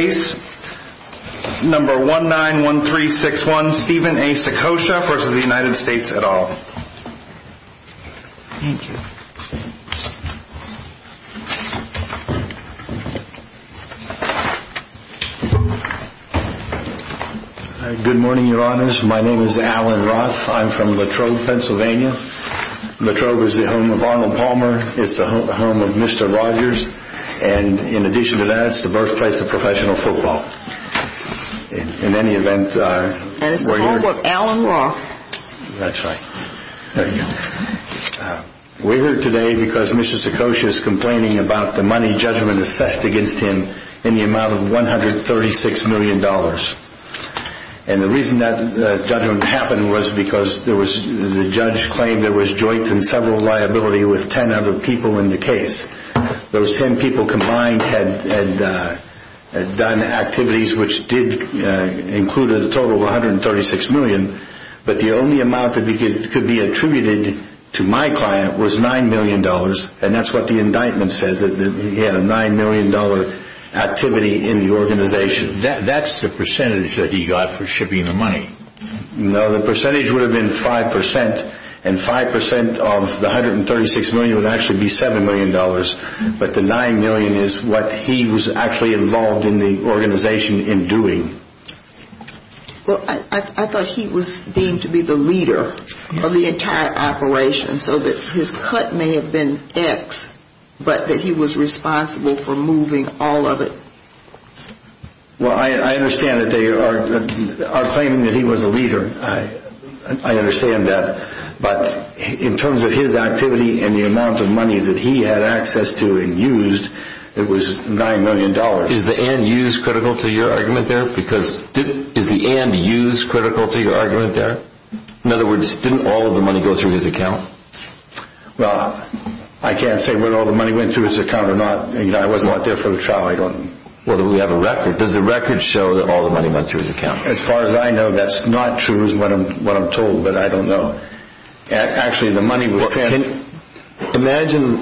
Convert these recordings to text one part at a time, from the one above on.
at all. Thank you. Good morning, your honors. My name is Alan Roth. I'm from La Trobe, Pennsylvania. La Trobe is the home of Arnold Palmer. It's the home of Mr. Rogers. And in addition to that, it's the birthplace of professional football. We're here today because Mr. Saccoccia is complaining about the money judgment assessed against him in the amount of $136 million. And the reason that judgment happened was because the judge claimed there was joint and several liability with 10 other people in the case. Those 10 people combined had done activities which did include a total of $136 million. But the only amount that could be attributed to my client was $9 million. And that's what the indictment says, that he had a $9 million activity in the organization. That's the percentage that he got for shipping the money. No, the percentage would have been 5%, and 5% of the $136 million would actually be $7 million. But the $9 million is what he was actually involved in the organization in doing. Well, I thought he was deemed to be the leader of the entire operation, so that his cut may have been X, but that he was responsible for moving all of it. Well, I understand that they are claiming that he was a leader. I understand that. But in terms of his activity and the amount of money that he had access to and used, it was $9 million. Is the end use critical to your argument there? In other words, didn't all of the money go through his account? Well, I can't say whether all of the money went through his account or not. I wasn't there for the trial. Well, we have a record. Does the record show that all of the money went through his account? As far as I know, that's not true is what I'm told, but I don't know. Actually, the money was transferred. Imagine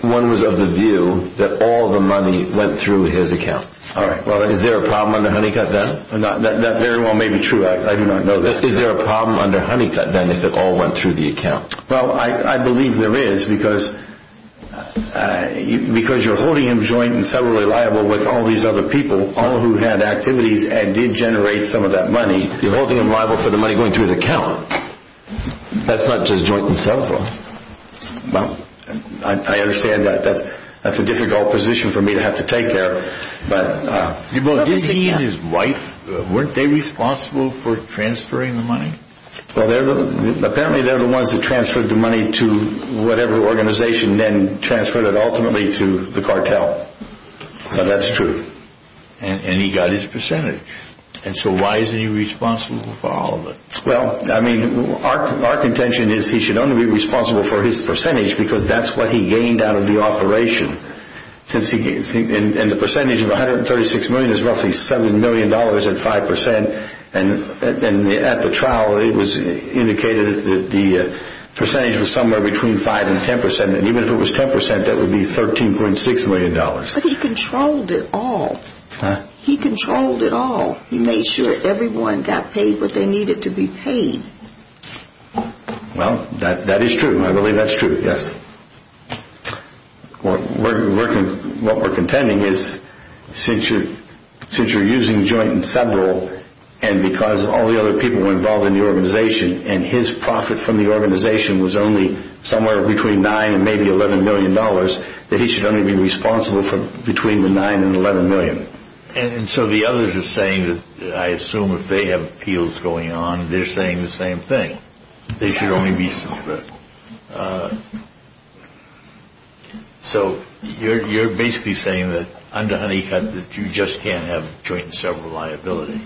one was of the view that all of the money went through his account. Is there a problem under Honeycutt then? That very well may be true. I do not know that. Is there a problem under Honeycutt then if it all went through the account? Well, I believe there is because you're holding him joint and separately liable with all these other people, all who had activities and did generate some of that money. You're holding him liable for the money going through his account. That's not just joint and separate. Well, I understand that's a difficult position for me to have to take there. Didn't he and his wife, weren't they responsible for transferring the money? Well, apparently they're the ones that transferred the money to whatever organization then transferred it ultimately to the cartel. So that's true. And he got his percentage. And so why isn't he responsible for all of it? Well, I mean, our contention is he should only be responsible for his percentage because that's what he gained out of the operation. And the percentage of $136 million is roughly $7 million at 5% and at the trial it was indicated that the percentage was somewhere between 5% and 10% and even if it was 10% that would be $13.6 million. But he controlled it all. He controlled it all. He made sure everyone got paid what they needed to be paid. Well, that is true. I believe that's true, yes. What we're contending is since you're using joint and several and because all the other people were involved in the organization and his profit from the organization was only somewhere between $9 and maybe $11 million that he should only be responsible for between the $9 and $11 million. And so the others are saying, I assume if they have appeals going on, they're saying the same thing. They should only be separate. So you're basically saying that under Honeycutt that you just can't have joint and several liability.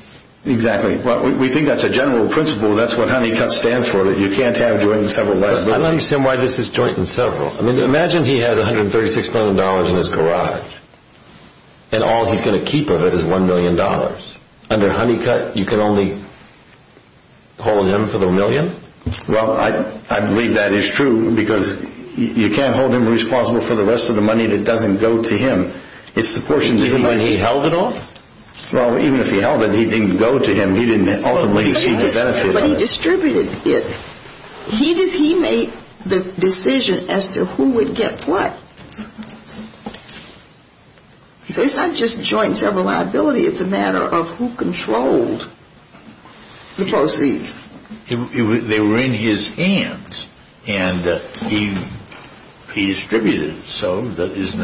Exactly. We think that's a general principle. That's what Honeycutt stands for, that you can't have joint and several liability. I don't understand why this is joint and several. Imagine he has $136 million in his garage and all he's going to keep of it is $1 million. Under Honeycutt you can only hold him for the million? Well, I believe that is true because you can't hold him responsible for the rest of the money that doesn't go to him. It's the portion that he... Even if he held it all? Well, even if he held it, he didn't go to him. He didn't ultimately receive the benefit of it. But he distributed it. He made the decision as to who would get what. It's not just joint and several liability. It's a matter of who controlled the proceeds. They were in his hands and he distributed it. So I believe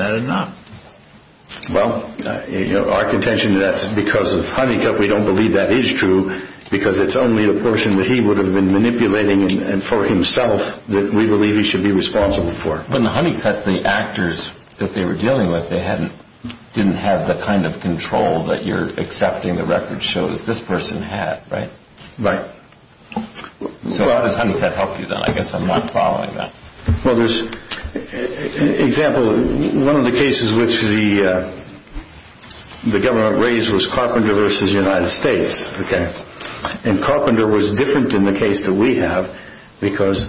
that is true because it's only a portion that he would have been manipulating and for himself that we believe he should be responsible for. But in Honeycutt, the actors that they were dealing with, they didn't have the kind of control that you're accepting the record shows this person had, right? Right. So how does Honeycutt help you then? I guess I'm not following that. Well, there's... Example, one of the cases which the government raised was Carpenter versus United States. And Carpenter was different in the case that we have because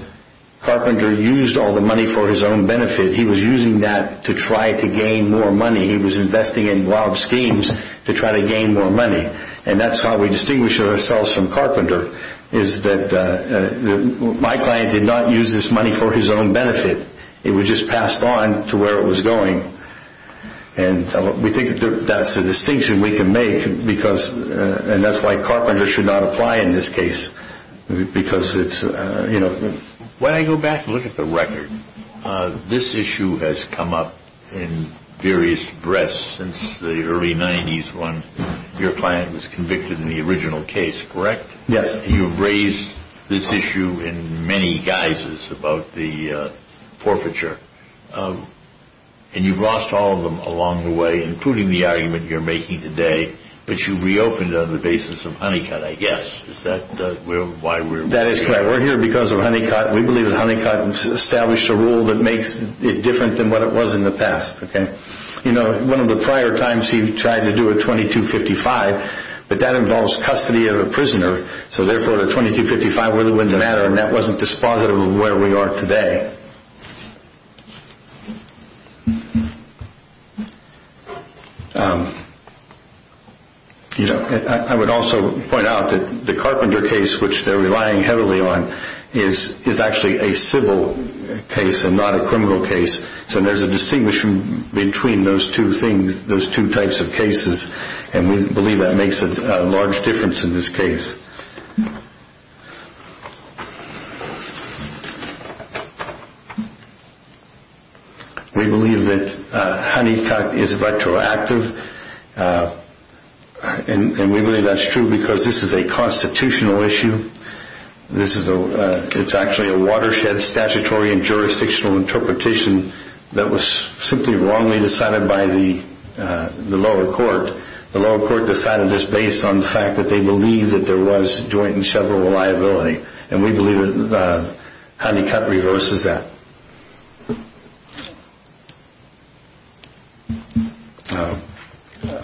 Carpenter used all the money for his own benefit. He was using that to try to gain more money. He was investing in wild schemes to try to gain more money. And that's how we distinguish ourselves from Carpenter is that my client did not use this money for his own benefit. It was just passed on to where it was going. And we think that's a distinction we can make because... And that's why Carpenter should not apply in this case because it's... When I go back and look at the record, this issue has come up in various breaths since the early 90s when your client was convicted in the original case, correct? Yes. You've raised this issue in many guises about the forfeiture. And you've lost all of them along the way, including the argument you're making today. But you've reopened on the basis of Honeycutt, I guess. Is that why we're... That is correct. We're here because of Honeycutt. We believe that Honeycutt established a rule that makes it different than what it was in the past. You know, one of the prior times he tried to do a 2255, but that involves custody of a prisoner. So therefore, the 2255 really wouldn't matter. And that wasn't dispositive of where we are today. And I would also point out that the Carpenter case, which they're relying heavily on, is actually a civil case and not a criminal case. So there's a distinction between those two things, those two types of cases. And we believe that makes a large difference in this case. We believe that Honeycutt is retroactive. And we believe that's true because this is a constitutional issue. It's actually a watershed statutory and jurisdictional interpretation that was simply wrongly decided by the lower court. The lower court decided this based on the fact that they believe that there was a constitutional issue. And that's why Honeycutt joint and several liability. And we believe that Honeycutt reverses that.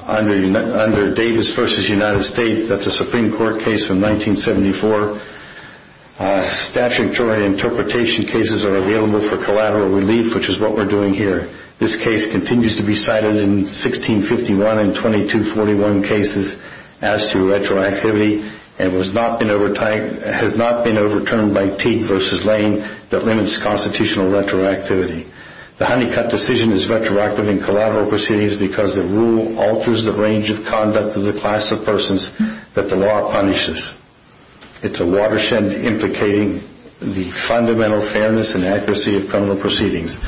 Under Davis v. United States, that's a Supreme Court case from 1974, statutory interpretation cases are available for collateral relief, which is what we're doing here. This case continues to be cited in 1651 and 2241 cases as to retroactivity and has not been overturned by Teague v. Lane that limits constitutional retroactivity. The Honeycutt decision is retroactive in collateral proceedings because the rule alters the range of conduct of the class of persons that the law punishes. It's a watershed implicating the fundamental fairness and accuracy of criminal proceedings.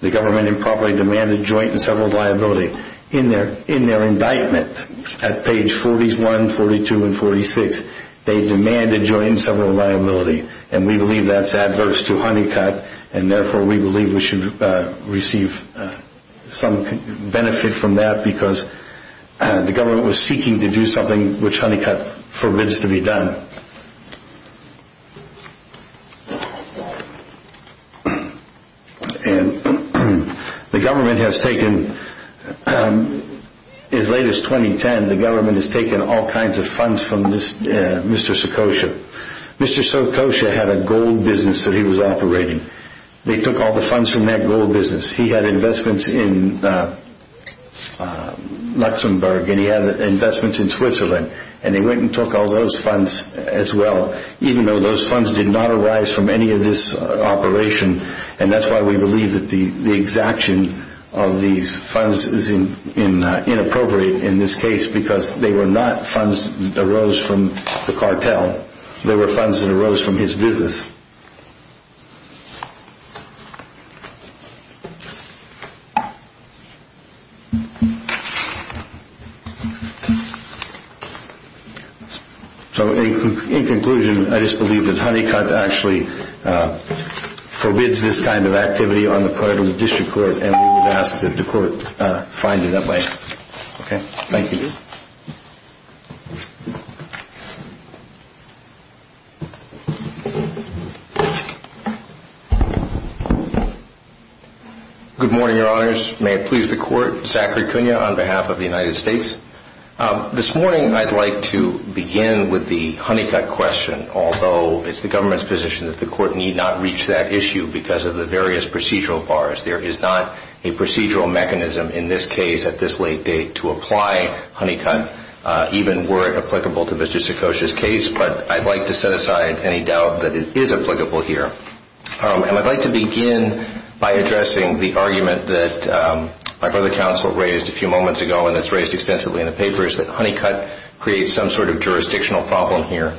The government improperly demanded joint and several liability. In their indictment at page 41, 42, and 46, they demanded joint and several liability. And we believe that's adverse to Honeycutt. And therefore, we believe we should receive some benefit from that because the government was seeking to do something which Honeycutt forbids to be done. And the government has taken, as late as 2010, the government has taken all kinds of funds from Mr. Sokosha. Mr. Sokosha had a gold business that he was operating. They took all the funds from that gold business. He had investments in Luxembourg. And he had investments in Switzerland. And they went and took all those funds as well, even though those funds did not arise from any of this operation. And that's why we believe that the exaction of these funds is inappropriate in this case because they were not funds that arose from the cartel. They were funds that arose from his business. So, in conclusion, I just believe that Honeycutt actually forbids this kind of activity on the part of the district court. And we would ask that the court find it that way. Okay. Thank you. Good morning, Your Honors. May it please the court, Zachary Cunha on behalf of the United States. This morning, I'd like to begin with the Honeycutt question, although it's the government's position that the court need not reach that issue because of the various procedural bars. There is not a procedural mechanism in this case at this late date to apply Honeycutt's position. Even were it applicable to Mr. Sikosha's case, but I'd like to set aside any doubt that it is applicable here. And I'd like to begin by addressing the argument that my brother counsel raised a few moments ago, and that's raised extensively in the papers, that Honeycutt creates some sort of jurisdictional problem here.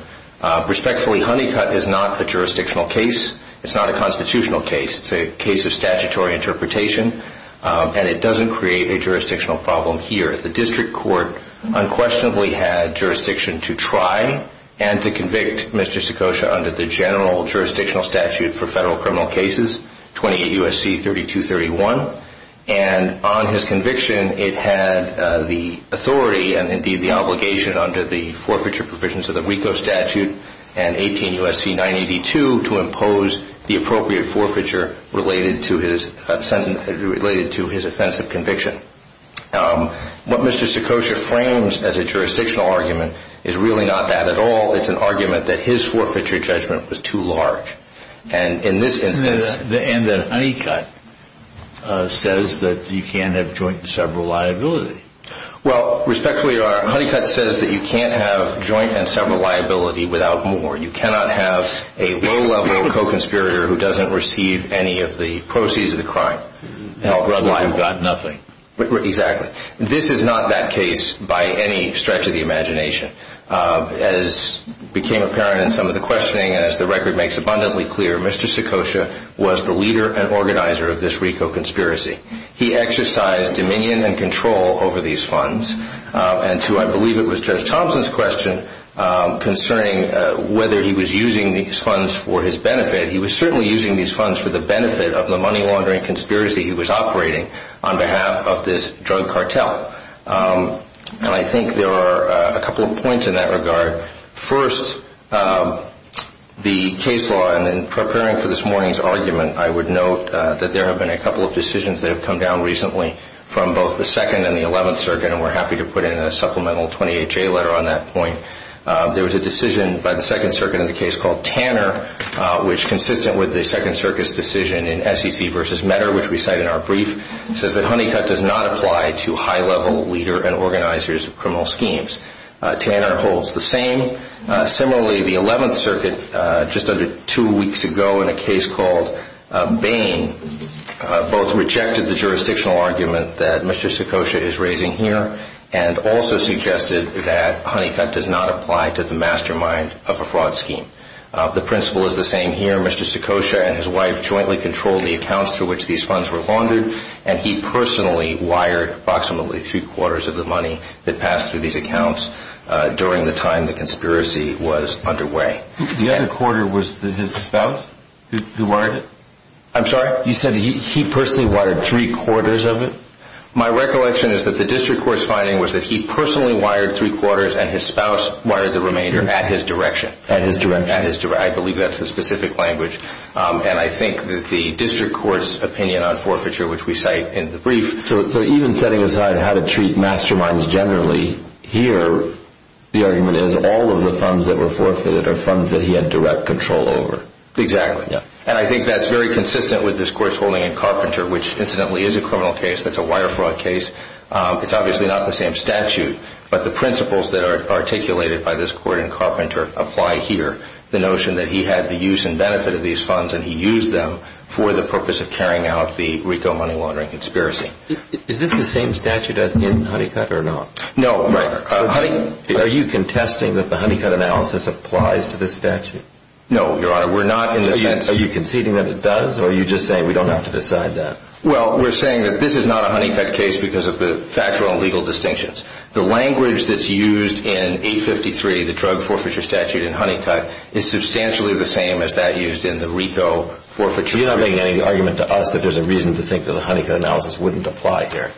Respectfully, Honeycutt is not a jurisdictional case. It's not a constitutional case. It's a case of statutory interpretation. And it doesn't create a jurisdictional problem here. The district court unquestionably had jurisdiction to try and to convict Mr. Sikosha under the general jurisdictional statute for federal criminal cases, 28 U.S.C. 3231. And on his conviction, it had the authority and indeed the obligation under the forfeiture provisions of the WICO statute and 18 U.S.C. 982 to impose the appropriate forfeiture related to his sentence, and that's a jurisdiction. What Mr. Sikosha frames as a jurisdictional argument is really not that at all. It's an argument that his forfeiture judgment was too large. And in this instance... And that Honeycutt says that you can't have joint and several liability. Well, respectfully, Honeycutt says that you can't have joint and several liability without more. You cannot have a low-level co-conspirator who doesn't receive any of the proceeds of the crime. You've got nothing. Exactly. This is not that case by any stretch of the imagination. As became apparent in some of the questioning, as the record makes abundantly clear, Mr. Sikosha was the leader and organizer of this WICO conspiracy. He exercised dominion and control over these funds. And to, I believe, it was Judge Thompson's question concerning whether he was using these funds for his benefit, he was certainly using these funds for the benefit of the money laundering conspiracy he was operating on behalf of this drug cartel. And I think there are a couple of points in that regard. First, the case law, and in preparing for this morning's argument, I would note that there have been a couple of decisions that have come down recently from both the Second and the Eleventh Circuit, and we're happy to put in a supplemental 28-J letter on that point. There was a decision by the Second Circuit in a case called Tanner, which, consistent with the Second Circuit's decision in SEC v. Medder, which we cite in our brief, says that Honeycutt does not apply to high-level leader and organizers of criminal schemes. Tanner holds the same. Similarly, the Eleventh Circuit, just under two weeks ago in a case called Bain, both rejected the jurisdictional argument that Mr. Sikosha is raising here and also suggested that Honeycutt does not apply to mastermind of a fraud scheme. The principle is the same here. Mr. Sikosha and his wife jointly controlled the accounts through which these funds were laundered, and he personally wired approximately three-quarters of the money that passed through these accounts during the time the conspiracy was underway. The other quarter was his spouse who wired it? I'm sorry? You said he personally wired three-quarters of it? My recollection is that the district court's finding was that he personally wired three-quarters and his spouse wired the remainder at his direction. At his direction. I believe that's the specific language, and I think that the district court's opinion on forfeiture, which we cite in the brief... So even setting aside how to treat masterminds generally, here the argument is all of the funds that were forfeited are funds that he had direct control over. Exactly. And I think that's very consistent with this court's holding in Carpenter, which incidentally is a criminal case. That's a wire fraud case. It's obviously not the same statute, but the principles that are articulated by this court in Carpenter apply here. The notion that he had the use and benefit of these funds and he used them for the purpose of carrying out the Rico money laundering conspiracy. Is this the same statute as in Honeycutt or not? No, Your Honor. Are you contesting that the Honeycutt analysis applies to this statute? No, Your Honor. We're not in the sense... Are you conceding that it does, or are you just saying we don't have to decide that? Well, we're saying that this is not a The language that's used in 853, the drug forfeiture statute in Honeycutt, is substantially the same as that used in the Rico forfeiture. You're not making any argument to us that there's a reason to think that the Honeycutt analysis wouldn't apply here.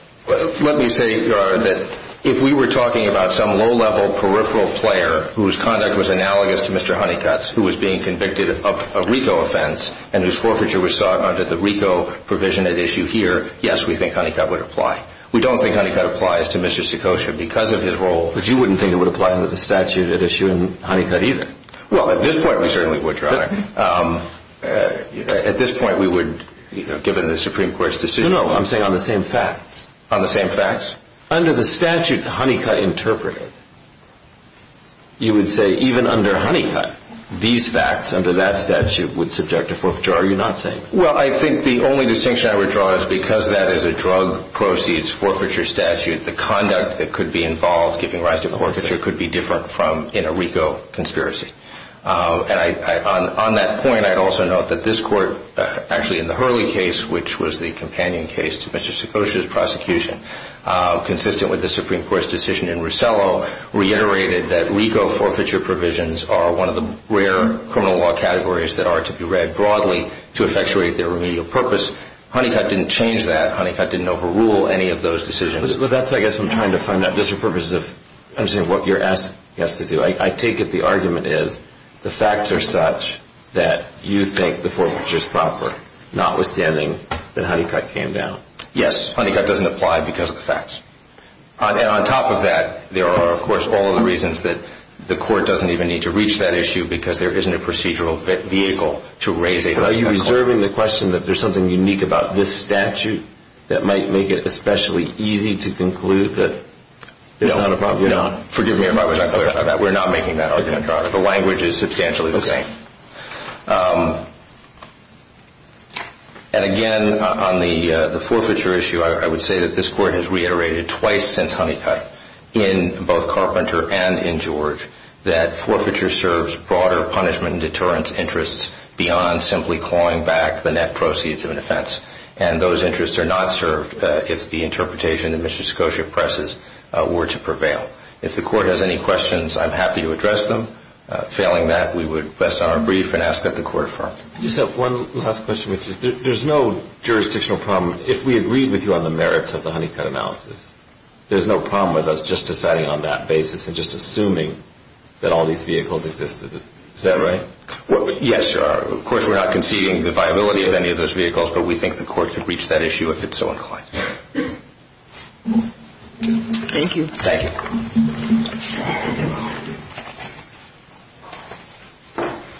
Let me say, Your Honor, that if we were talking about some low-level peripheral player whose conduct was analogous to Mr. Honeycutt's, who was being convicted of a Rico offense and whose forfeiture was sought under the Rico provision at issue here, yes, we think Honeycutt would apply. We don't think Honeycutt applies to Mr. Sikosha because of his role... But you wouldn't think it would apply under the statute at issue in Honeycutt either? Well, at this point, we certainly would, Your Honor. At this point, we would, you know, given the Supreme Court's decision... No, no. I'm saying on the same facts. On the same facts? Under the statute Honeycutt interpreted, you would say even under Honeycutt, these facts under that statute would subject to forfeiture. Are you not saying that? Well, I think the only distinction I would draw is because that is a drug proceeds forfeiture statute, the conduct that could be involved giving rise to forfeiture could be different from in a Rico conspiracy. And on that point, I'd also note that this Court, actually in the Hurley case, which was the companion case to Mr. Sikosha's prosecution, consistent with the Supreme Court's decision in Rosello, reiterated that Rico forfeiture provisions are one of the rare criminal law categories that are to be read broadly to change that. Honeycutt didn't overrule any of those decisions. But that's, I guess, what I'm trying to find out, just for purposes of understanding what you're asking us to do. I take it the argument is the facts are such that you think the forfeiture is proper, notwithstanding that Honeycutt came down. Yes. Honeycutt doesn't apply because of the facts. And on top of that, there are, of course, all of the reasons that the Court doesn't even need to reach that issue because there isn't a procedural vehicle to raise a... But are you reserving the question that there's something unique about this statute that might make it especially easy to conclude that... No, no. Forgive me if I was unclear on that. We're not making that argument, Robert. The language is substantially the same. And again, on the forfeiture issue, I would say that this Court has reiterated twice since Honeycutt, in both Carpenter and in George, that forfeiture serves broader punishment and deterrence interests beyond simply clawing back the net proceeds of an offense. And those interests are not served if the interpretation that Mr. Scotia presses were to prevail. If the Court has any questions, I'm happy to address them. Failing that, we would rest on our brief and ask that the Court affirm. I just have one last question. There's no jurisdictional problem. If we agreed with you on the merits of the Honeycutt analysis, there's no problem with us just deciding on that basis and just assuming that all these vehicles existed. Is that right? Yes, sir. Of course, we're not conceding the viability of any of those vehicles, but we think the Court could reach that issue if it's so inclined. Thank you. Thank you.